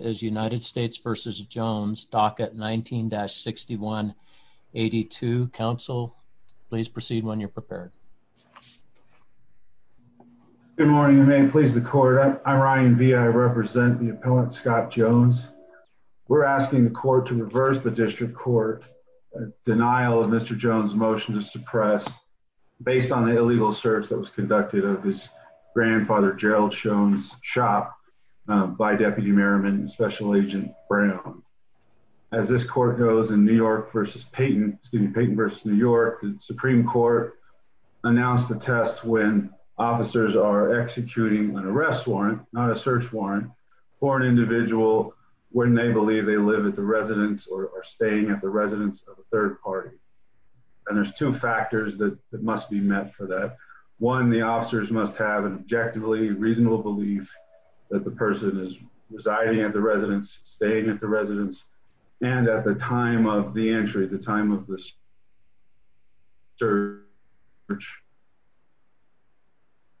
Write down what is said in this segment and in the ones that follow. is United States v. Jones, docket 19-6182. Council, please proceed when you're prepared. Good morning and may it please the court. I'm Ryan Vee. I represent the appellant Scott Jones. We're asking the court to reverse the district court denial of Mr. Jones' motion to suppress based on the illegal search that was conducted of his grandfather Gerald Jones' shop by Deputy Merriman and Special Agent Brown. As this court goes in New York v. Payton, excuse me, Payton v. New York, the Supreme Court announced the test when officers are executing an arrest warrant, not a search warrant, for an individual when they believe they live at the residence or staying at the residence of a third party. And there's two factors that must be met for that. One, the officers must have an objectively reasonable belief that the person is residing at the residence, staying at the residence, and at the time of the entry, the time of the search,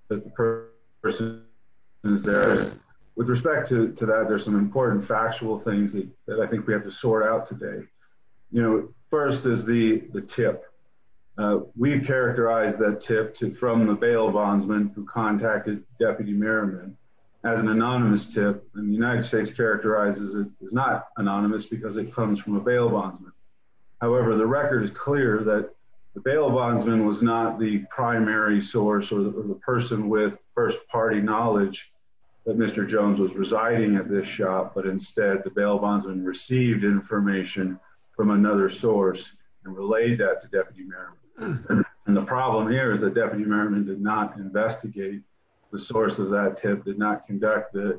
that the person is there. With respect to that, there's some important factual things that I think we have to sort out today. First is the tip. We've characterized that tip from the bail bondsman who contacted Deputy Merriman as an anonymous tip, and the United States characterizes it as not anonymous because it comes from a bail bondsman. However, the record is clear that the bail bondsman was not the primary source or the person with first party knowledge that Mr. Jones was residing at but instead the bail bondsman received information from another source and relayed that to Deputy Merriman. And the problem here is that Deputy Merriman did not investigate the source of that tip, did not conduct the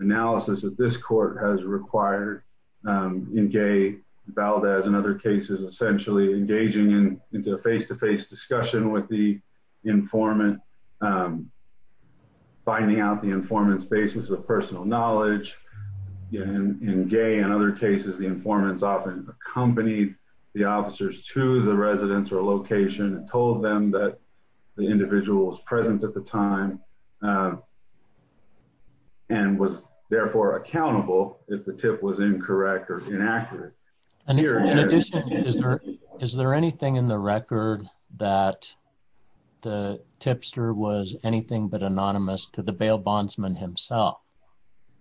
analysis that this court has required in Gaye, Valdez, and other cases, essentially engaging into a face-to-face discussion with the informant, finding out the informant's basis of personal knowledge. In Gaye and other cases, the informants often accompanied the officers to the residence or location and told them that the individual was present at the time and was therefore accountable if the tip was incorrect or inaccurate. And in addition, is there anything in the record that the tipster was anything but anonymous to bail bondsman himself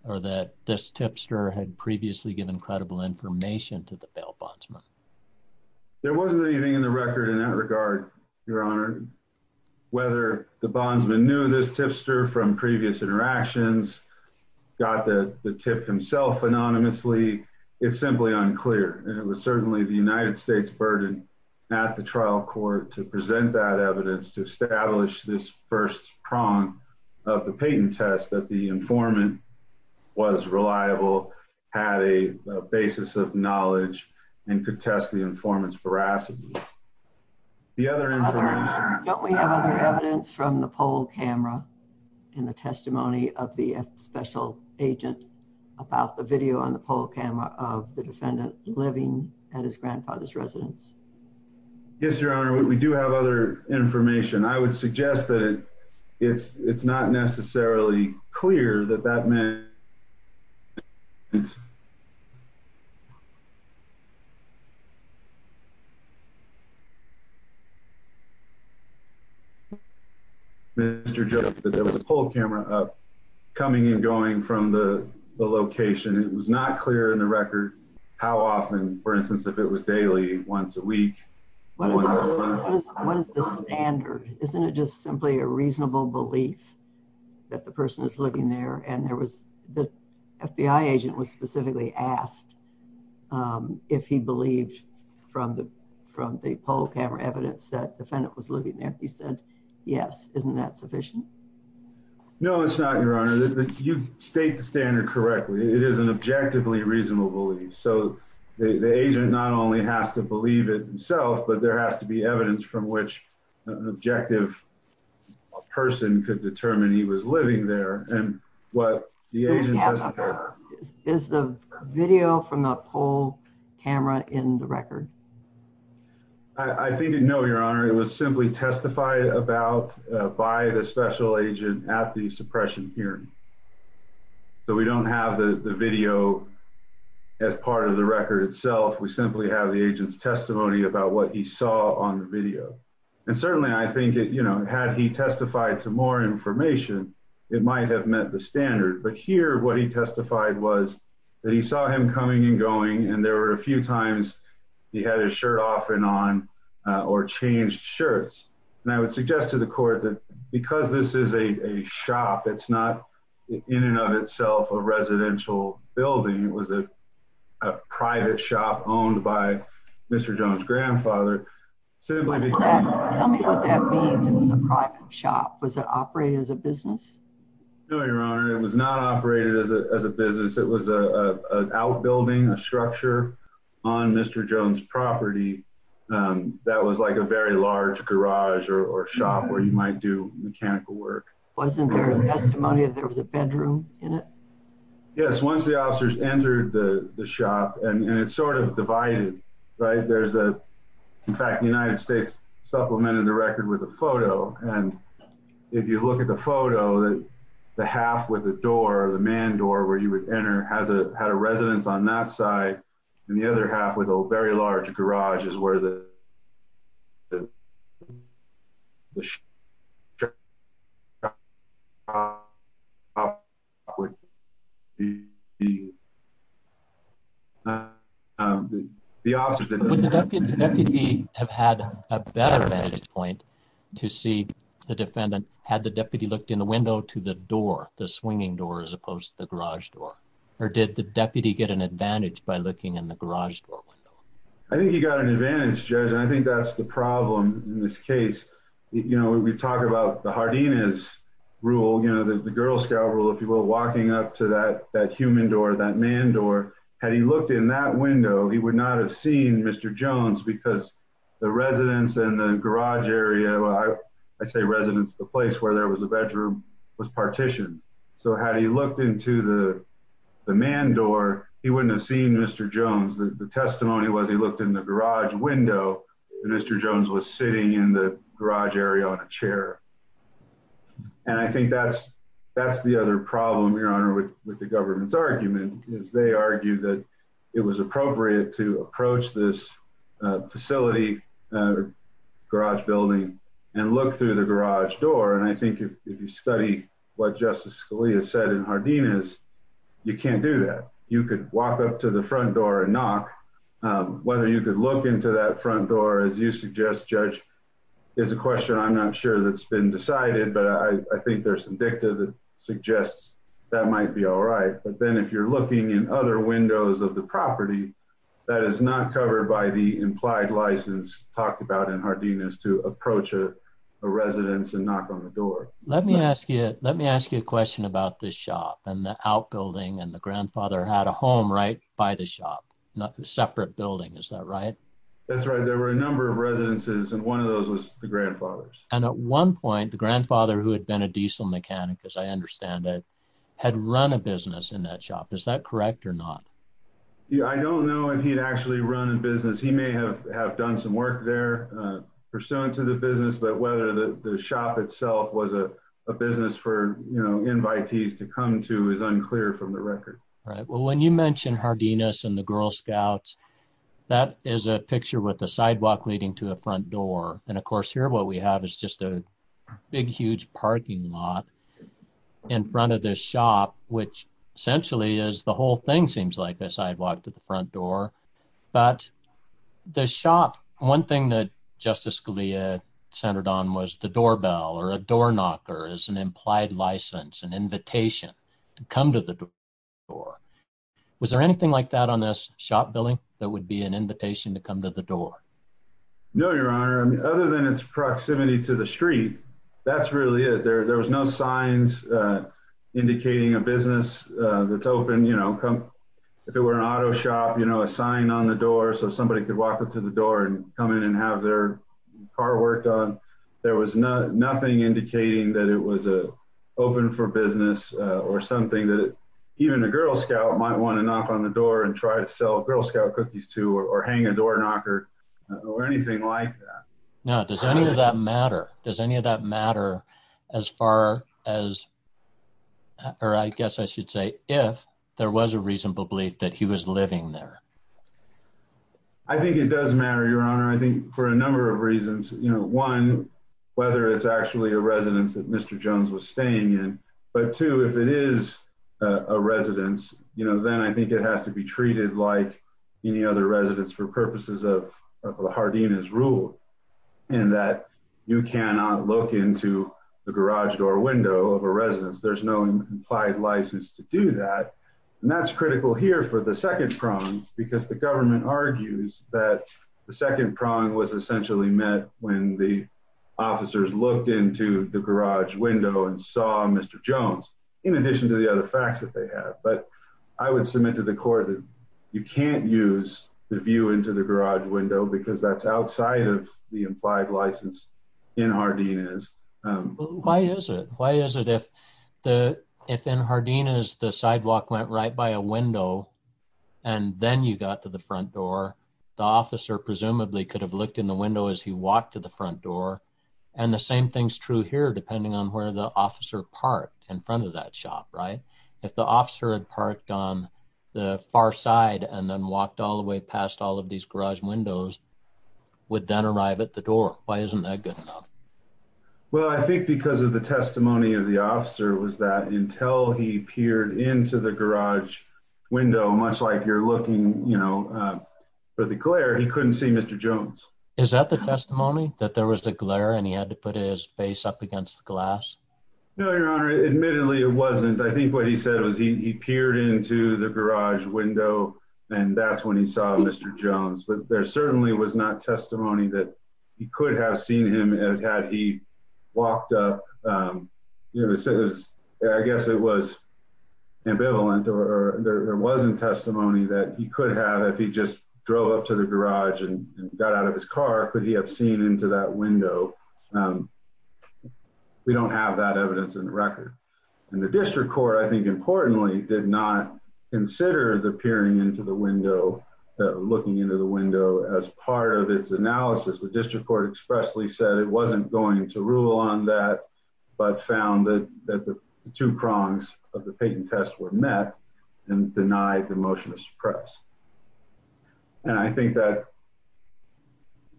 or that this tipster had previously given credible information to the bail bondsman? There wasn't anything in the record in that regard, Your Honor. Whether the bondsman knew this tipster from previous interactions, got the tip himself anonymously, it's simply unclear. And it was certainly the United States' burden at the trial court to present that evidence to state and test that the informant was reliable, had a basis of knowledge, and could test the informant's veracity. Don't we have other evidence from the poll camera in the testimony of the special agent about the video on the poll camera of the defendant living at his grandfather's residence? Yes, Your Honor, we do have other information. I would suggest that it's not necessarily clear that that meant Mr. Joseph that there was a poll camera coming and going from the location. It was not clear in the testimony. What is the standard? Isn't it just simply a reasonable belief that the person is living there and the FBI agent was specifically asked if he believed from the poll camera evidence that the defendant was living there. He said yes. Isn't that sufficient? No, it's not, Your Honor. You state the standard correctly. It is an evidence from which an objective person could determine he was living there. Is the video from the poll camera in the record? I think no, Your Honor. It was simply testified about by the special agent at the suppression hearing. So we don't have the video as part of record itself. We simply have the agent's testimony about what he saw on the video. And certainly, I think, you know, had he testified to more information, it might have met the standard. But here what he testified was that he saw him coming and going and there were a few times he had his shirt off and on or changed shirts. And I would suggest to the court that because this is a shop, it's not in and of itself a residential building. It was a private shop owned by Mr. Jones' grandfather. Tell me what that means. It was a private shop. Was it operated as a business? No, Your Honor. It was not operated as a business. It was an outbuilding, a structure on Mr. Jones' property that was like a very large garage or shop where you might do mechanical work. Wasn't there a testimony that there was a bedroom in it? Yes, once the officers entered the shop, and it's sort of divided, right? In fact, the United States supplemented the record with a photo. And if you look at the photo, the half with the door, the man door where you would enter, had a residence on that side. And the other half with a very large garage is where the- Would the deputy have had a better vantage point to see the defendant had the deputy looked in the window to the door, the swinging door, as opposed to the garage door? Or did the deputy get an advantage by looking in the garage door? I think he got an advantage, Judge. And I think that's the problem in this case. We talk about the Hardina's rule, the Girl Scout rule, if you will, walking up to that human door, that man door, had he looked in that window, he would not have seen Mr. Jones because the residence and the garage area, I say residence, the place where there was a bedroom, was partitioned. So had he looked into the man door, he wouldn't have seen Mr. Jones. The testimony was he looked in the garage window and Mr. Jones was sitting in the garage area on a chair. And I think that's the other problem, Your Honor, with the government's argument, is they argue that it was appropriate to approach this facility, garage building, and look through the garage door. And I think if you study what Justice Scalia said in Hardina's, you can't do that. You could walk up to the front door and knock. Whether you could look into that front door, as you suggest, Judge, is a question I'm not sure that's been decided. But I think there's some dicta that suggests that might be all right. But then if you're looking in other windows of the property, that is not covered by the implied license talked about in Hardina's to approach a residence and knock on the door. Let me ask you, let me ask you a question about this shop and the outbuilding and the grandfather had a home right by the shop, not a separate building. Is that right? That's right. There were a number of residences and one of those was the grandfather's. And at one point, the grandfather, who had been a diesel mechanic, as I understand it, had run a business in that shop. Is that correct or not? I don't know if he'd actually run a business. He may have done some work there pursuant to business. But whether the shop itself was a business for invitees to come to is unclear from the record. Right. Well, when you mentioned Hardina's and the Girl Scouts, that is a picture with a sidewalk leading to the front door. And of course, here, what we have is just a big, huge parking lot in front of this shop, which essentially is the whole thing seems like a sidewalk to the front door. But the shop, one thing that Justice Scalia centered on was the doorbell or a door knocker is an implied license, an invitation to come to the door. Was there anything like that on this shop building that would be an invitation to come to the door? No, Your Honor. Other than its proximity to the street, that's really it. There was no signs indicating a business that's open. If it were an auto shop, a sign on the door, so somebody could walk up to the door and come in and have their car worked on. There was nothing indicating that it was open for business or something that even a Girl Scout might want to knock on the door and try to sell Girl Scout cookies to or hang a door knocker or anything like that. Now, does any of that matter? Does any of that matter as far as, or I guess I should say, if there was a reasonable belief that he was living there? I think it does matter, Your Honor. I think for a number of reasons, you know, one, whether it's actually a residence that Mr. Jones was staying in, but two, if it is a residence, you know, then I think it has to be treated like any other residence for purposes of Hardina's rule, in that you cannot look into the garage door window of a residence. There's no implied license to do that. And that's critical here for the second prong, because the government argues that the second prong was essentially met when the officers looked into the garage window and saw Mr. Jones, in addition to the other facts that they have. But I would submit to the court that you can't use the view into the garage window because that's outside of the implied license in Hardina's. Why is it? Why is it if the, if in Hardina's, the sidewalk went right by a window and then you got to the front door, the officer presumably could have looked in the window as he walked to the front door. And the same thing's true here, depending on where the officer parked in front of that shop, right? If the officer had parked on the far side and then walked all the way past all of these garage windows, would then arrive at the door. Why isn't that good enough? Well, I think because of the testimony of the officer was that until he peered into the garage window, much like you're looking, you know, for the glare, he couldn't see Mr. Jones. Is that the testimony? That there was a glare and he had to put his face up against the glass? No, your honor. Admittedly, it wasn't. I think what he said was he peered into the garage window and that's when he saw Mr. Jones, but there certainly was not testimony that he could have seen him and had he walked up, you know, I guess it was ambivalent or there wasn't testimony that he could have if he just drove up to the garage and got out of his car. Could he have seen into that window? We don't have that evidence in the record and the district court, I think importantly, did not consider the peering into the window, looking into the window as part of its analysis. The district court expressly said it wasn't going to rule on that, but found that the two prongs of the patent test were met and denied the motion to suppress. And I think that,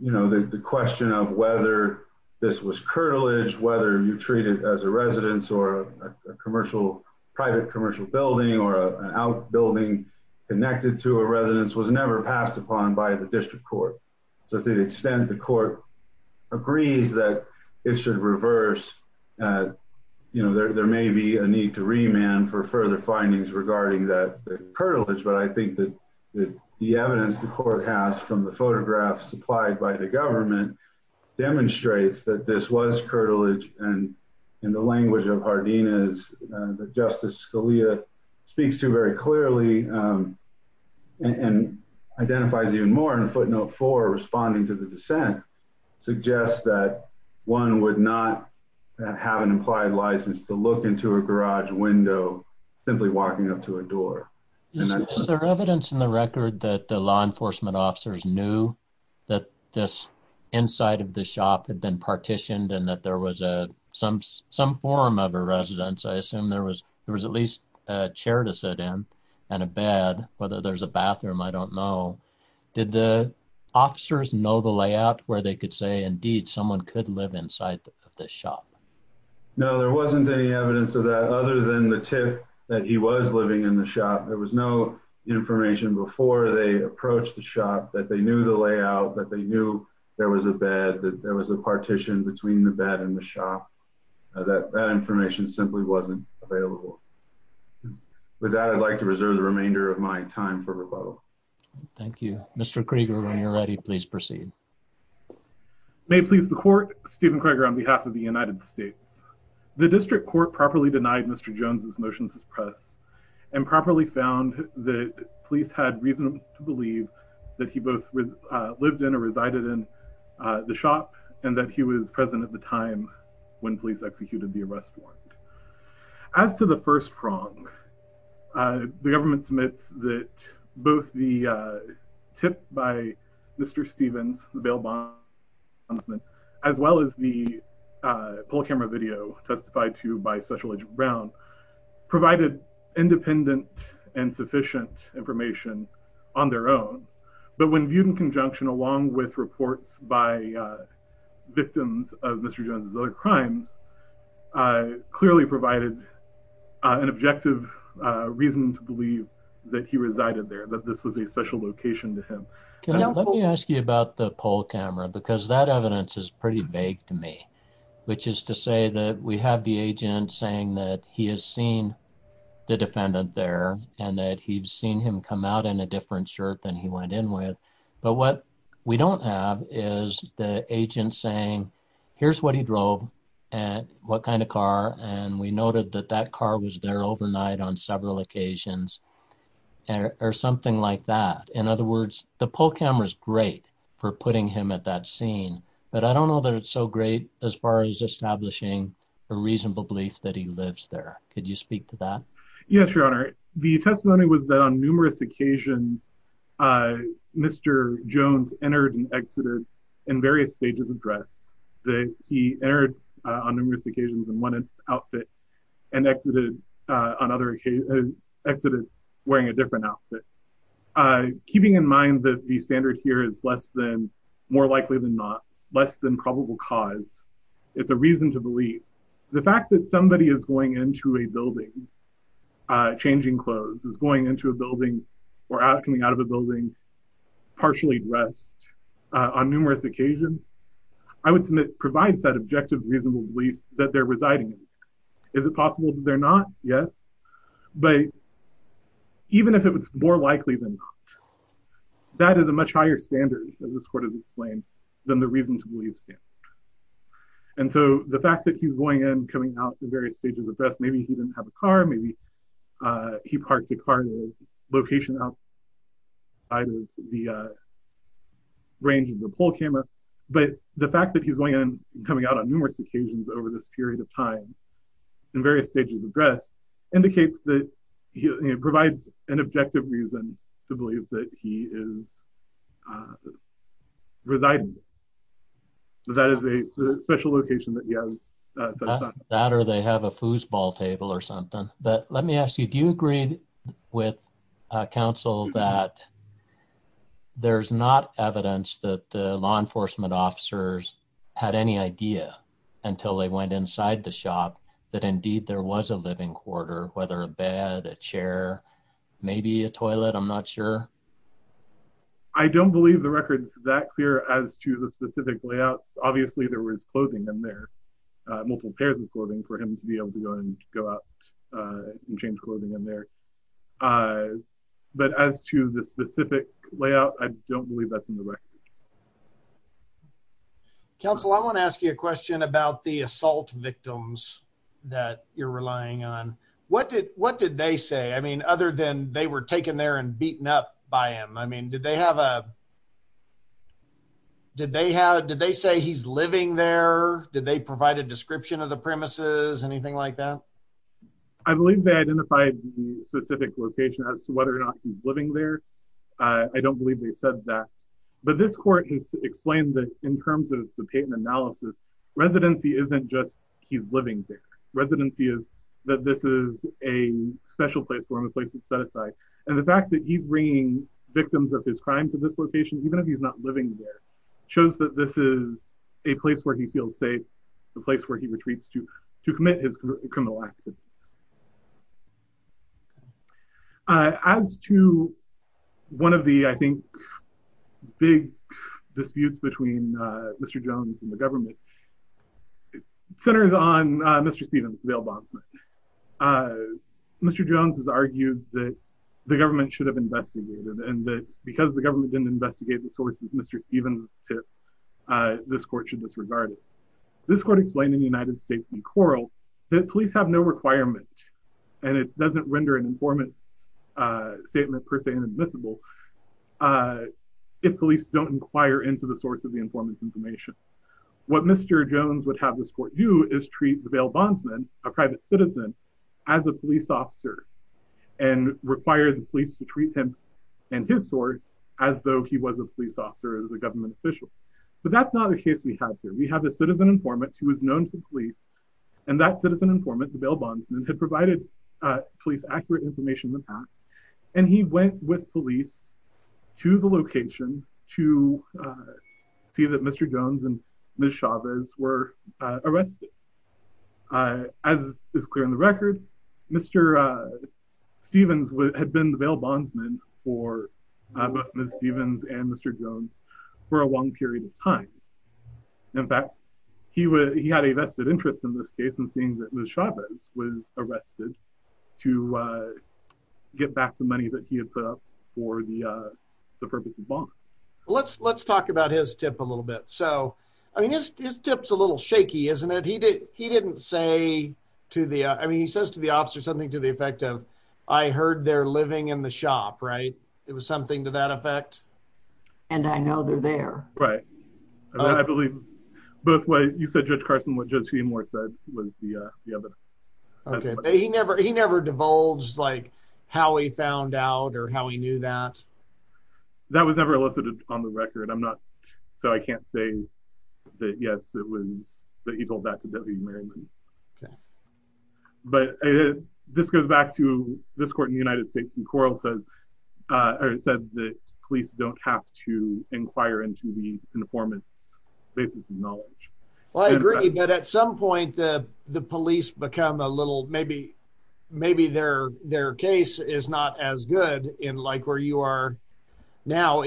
you know, the question of whether this was curtilage, whether you treat it as a residence or a commercial private commercial building or an out building connected to a residence was never passed upon by the district court. So to the extent the court agrees that it should reverse, you know, there may be a need to remand for further findings regarding that curtilage, but I think that the evidence the court has from the photographs supplied by the government demonstrates that this was curtilage and in the language of Hardina's that Justice Scalia speaks to very clearly and identifies even more in footnote four responding to the dissent, suggests that one would not have an implied license to look into a garage window simply walking up to a door. Is there evidence in the record that the law enforcement officers knew that this inside of the shop had been partitioned and that there was a some some form of a residence, I assume there was there was at least a chair to sit in and a bed, whether there's a bathroom, I don't know. Did the officers know the layout where they could say indeed someone could live inside of this shop? No, there wasn't any evidence of that other than the tip that he was living in the shop. There was no information before they approached the shop that they knew the layout, that they knew there was a bed, that there was a partition between the bed and the shop, that that information simply wasn't available. With that, I'd like to reserve the remainder of my time for rebuttal. Thank you. Mr. Krieger, when you're ready, please proceed. May it please the court. Thank you, Mr. Krieger. On behalf of the United States, the district court properly denied Mr. Jones's motions to the press and properly found that police had reason to believe that he both lived in or resided in the shop and that he was present at the time when police executed the arrest warrant. As to the first prong, the government submits that both the tip by Mr. Stevens, the bail bondsman, as well as the poll camera video testified to by Special Agent Brown provided independent and sufficient information on their own, but when viewed in conjunction along with reports by victims of Mr. Jones's other crimes, clearly provided an objective reason to believe that he resided there, that this was a special location to him. Let me ask you about the poll camera because that evidence is pretty vague to me, which is to say that we have the agent saying that he has seen the defendant there and that he's seen him come out in a different shirt than he is. We have the agent saying, here's what he drove and what kind of car, and we noted that that car was there overnight on several occasions or something like that. In other words, the poll camera is great for putting him at that scene, but I don't know that it's so great as far as establishing a reasonable belief that he lives there. Could you speak to that? Yes, Your Honor. The testimony was that on numerous occasions, Mr. Jones entered and exited in various stages of dress, that he entered on numerous occasions in one outfit and exited wearing a different outfit. Keeping in mind that the standard here is less than, more likely than not, less than probable cause, it's a reason to believe the fact that somebody is going into a building, changing clothes, is going into a building or coming out of a building partially dressed on numerous occasions, I would submit provides that objective reasonable belief that they're residing. Is it possible that they're not? Yes, but even if it's more likely than not, that is a much higher standard, as this court has explained, than the reason to believe standard. And so the fact that he's going in, coming out in various stages of dress, maybe he didn't have a car, maybe he parked the car in a location outside of the range of the poll camera, but the fact that he's going in, coming out on numerous occasions over this period of time in various stages of dress, indicates that he provides an objective reason to believe that he is residing. That is a special location that he has that or they have a foosball table or something. But let me ask you, do you agree with council that there's not evidence that the law enforcement officers had any idea until they went inside the shop that indeed there was a living quarter, whether a bed, a chair, maybe a toilet, I'm not sure? I don't believe the record is that clear as to the specific layouts. Obviously there was clothing in there, multiple pairs of clothing for him to be able to go and go out and change clothing in there. But as to the specific layout, I don't believe that's in the record. Council, I want to ask you a question about the assault victims that you're relying on. What did what did they say? I mean, other than they were taken there and beaten up by him, I mean, did they have a did they have, did they say he's living there? Did they provide a description of the premises, anything like that? I believe they identified the specific location as to whether or not he's living there. I don't believe they said that, but this court has explained that in terms of the patent analysis, residency isn't just he's living there. Residency is that this is a special place for him, a place and the fact that he's bringing victims of his crime to this location, even if he's not living there, shows that this is a place where he feels safe, the place where he retreats to to commit his criminal activities. As to one of the, I think, big disputes between Mr. Jones and the government should have investigated and that because the government didn't investigate the source of Mr. Stevens' tip, this court should disregard it. This court explained in United States v. Coral that police have no requirement, and it doesn't render an informant statement per se inadmissible, if police don't inquire into the source of the informant's information. What Mr. Jones would have this court do is treat the bail bondsman, a private citizen, as a police officer and require the police to treat him and his source as though he was a police officer as a government official. But that's not the case we have here. We have a citizen informant who was known to police and that citizen informant, the bail bondsman, had provided police accurate information in the past and he went with police to the location to see that Mr. Jones and Ms. Chavez were arrested. As is clear in the record, Mr. Stevens had been the bail bondsman for both Ms. Stevens and Mr. Jones for a long period of time. In fact, he had a vested interest in this case in seeing that Ms. Chavez was arrested to get the money that he had set up for the purpose of the bond. Let's talk about his tip a little bit. His tip's a little shaky, isn't it? He didn't say to the... He says to the officer something to the effect of, I heard they're living in the shop, right? It was something to that effect. And I know they're there. Right. I believe both ways. You said Judge found out or how he knew that? That was never elicited on the record. I'm not... So I can't say that, yes, it was that he told that to W.E. Merriman. Okay. But this goes back to this court in the United States and Quarles said that police don't have to inquire into the informant's basis of knowledge. Well, I agree, but at some point the police become a little... Maybe their case is not as good in like where you are now.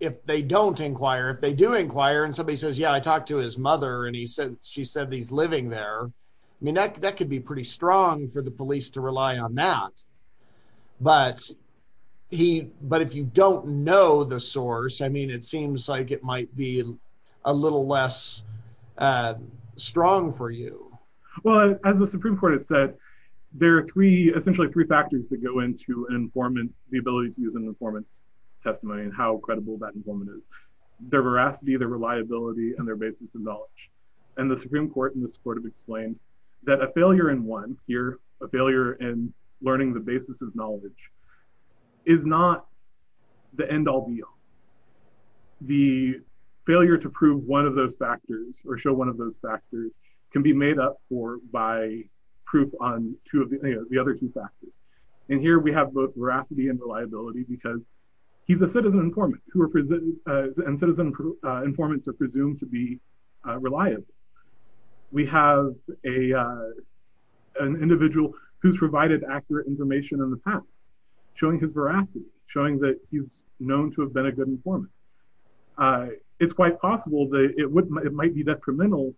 If they don't inquire, if they do inquire and somebody says, yeah, I talked to his mother and she said he's living there. I mean, that could be pretty strong for the police to rely on that. But if you don't know the source, I mean, it seems like it might be a little less strong for you. Well, as the Supreme Court has said, there are three, essentially three factors that go into an informant, the ability to use an informant's testimony and how credible that informant is. Their veracity, their reliability and their basis of knowledge. And the Supreme Court in this court have explained that a failure in one here, a failure in learning the basis of knowledge is not the end all be all. The failure to prove one of those factors or show one of those factors can be made up for by proof on the other two factors. And here we have both veracity and reliability because he's a citizen informant and citizen informants are presumed to be reliable. We have an individual who's provided accurate information in the past, showing his veracity, showing that he's known to have been a good informant. It's quite possible that it might be detrimental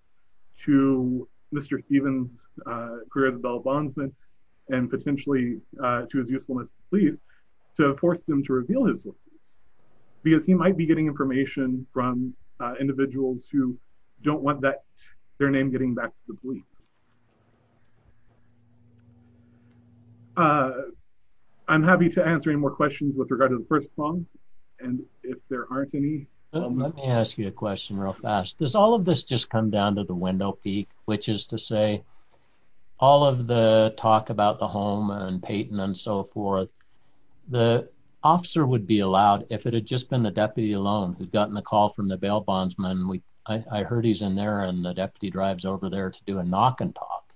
to Mr. Stevens' career as a bail bondsman and potentially to his usefulness to the police to force them to reveal his sources because he might be getting information from individuals who don't want their name getting back to the police. I'm happy to answer any more questions with regard to the first prong. And if there aren't any... Let me ask you a question real fast. Does all of this just come down to the windowpeak, which is to say all of the talk about the home and Peyton and so forth, the officer would be allowed if it had just been the deputy alone who'd gotten the call from the bail bondsman. I heard he's in there and the deputy drives over there to do a knock and talk.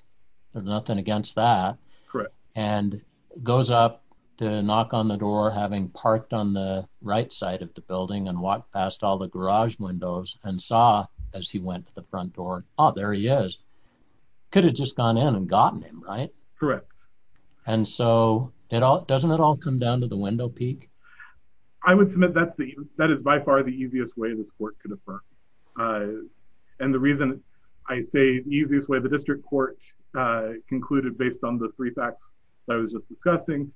There's nothing against that. Correct. And goes up to knock on the door, having parked on the right side of the building and walked past all the garage windows and saw as he went to the front door, oh, there he is. Could have just gone in and gotten him, right? Correct. And so, doesn't it all come down to the windowpeak? I would submit that is by far the easiest way this court could affirm. And the reason I say easiest way, the district court concluded based on the three facts that I was just discussing,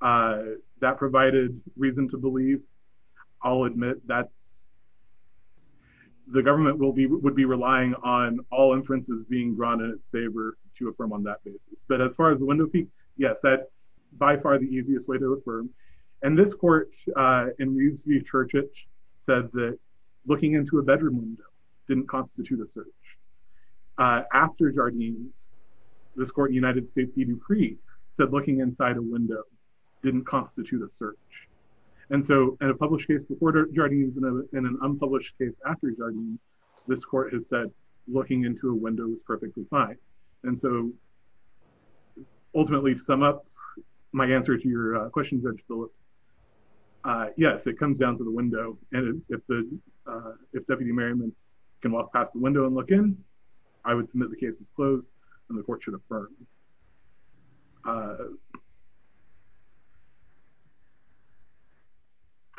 that provided reason to believe. I'll admit that the government would be relying on all inferences being drawn in its favor to affirm on that basis. But as far as the windowpeak, yes, that's by far the easiest way to affirm. And this court in Reeves v. Churchage said that looking into a bedroom window didn't constitute a search. After Jardines, this court in United States v. Dupree said looking inside a window didn't constitute a search. And so, in a published case before Jardines and an unpublished case after Jardines, this court has said looking into a window was perfectly fine. And so, ultimately, to sum up my answer to your question, Judge Phillips, yes, it comes down to the window. And if Deputy Merriman can walk past the window and look in, I would submit the case is closed and the court should affirm.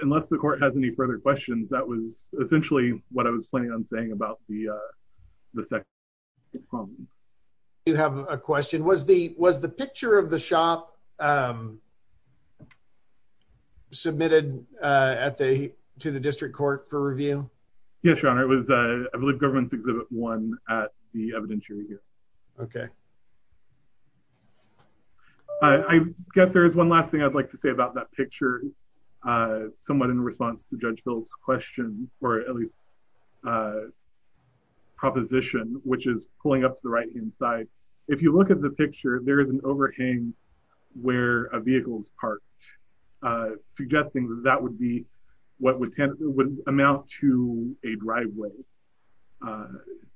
Unless the court has any further questions, that was essentially what I was planning on about the second part of the question. I do have a question. Was the picture of the shop submitted to the district court for review? Yes, Your Honor. It was, I believe, Government's Exhibit 1 at the evidentiary here. Okay. I guess there is one last thing I'd like to say about that picture, somewhat in response to Judge Phillips' question, or at least proposition, which is pulling up to the right-hand side. If you look at the picture, there is an overhang where a vehicle is parked, suggesting that that would be what would amount to a driveway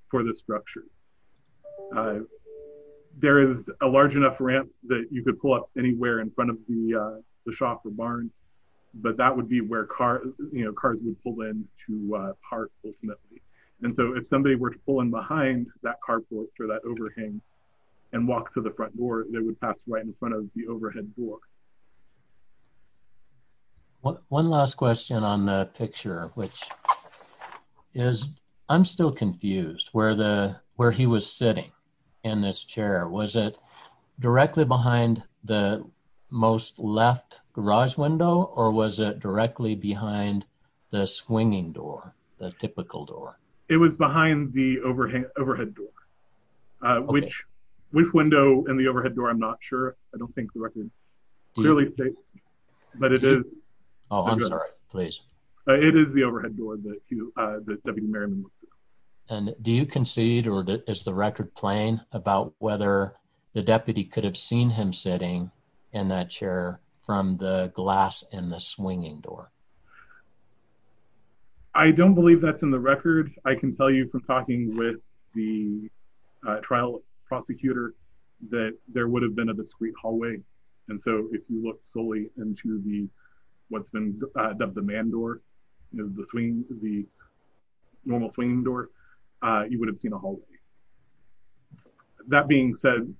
for this structure. There is a large enough ramp that you could pull up anywhere in but that would be where cars would pull in to park, ultimately. And so if somebody were to pull in behind that car porch or that overhang and walk to the front door, they would pass right in front of the overhead door. One last question on the picture, which is, I'm still confused where he was sitting in this chair. Was it directly behind the most left garage window or was it directly behind the swinging door, the typical door? It was behind the overhead door, which window in the overhead door, I'm not sure. I don't think the record clearly states, but it is. Oh, I'm sorry. Please. It is the overhead door that Deputy Merriman looked through. And do you concede or is the record plain about whether the deputy could have seen him sitting in that chair from the glass in the swinging door? I don't believe that's in the record. I can tell you from talking with the trial prosecutor that there would have been a discrete hallway. And so if you look solely into the, what's been dubbed the man door, the normal swinging door, you would have seen a hallway. That being said,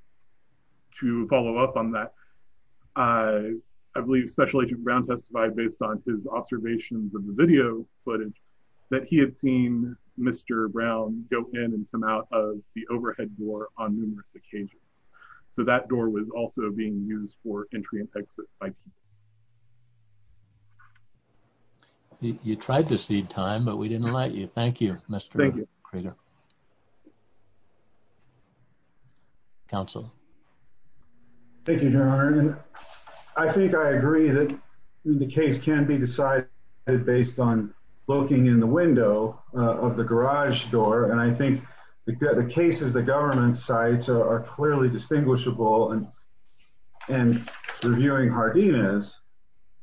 to follow up on that, I believe Special Agent Brown testified based on his observations of the video footage that he had seen Mr. Brown go in and come out of the overhead door on numerous occasions. So that door was also being used for entry and exit by people. You tried to cede time, but we didn't let you. Thank you, Mr. Crater. Counsel. Thank you, Your Honor. I think I agree that the case can be decided based on looking in the window of the garage door. And I think the cases the government cites are clearly distinguishable and reviewing Hardina's,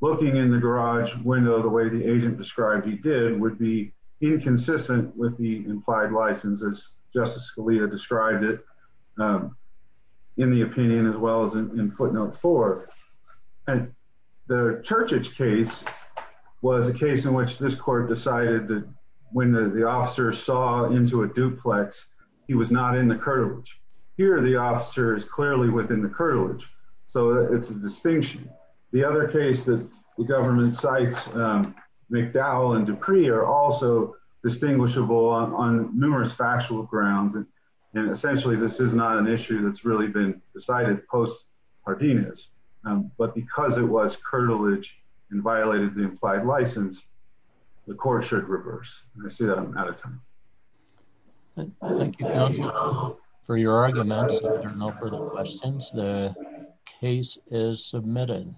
looking in the garage window the way the agent described he did would be inconsistent with the implied license as Justice Scalia described it in the opinion as well as in footnote four. And the Churchage case was a case in which this court decided that when the officer saw into a duplex, he was not in the cartilage. Here, the officer is clearly within the cartilage. So it's a distinction. The other case that the government cites, McDowell and Dupree are also distinguishable on numerous factual grounds. And essentially, this is not an issue that's really been decided post Hardina's. But because it was cartilage and violated the implied license, the court should reverse. I see that I'm out of time. Thank you for your arguments. I don't know for the questions. The case is submitted.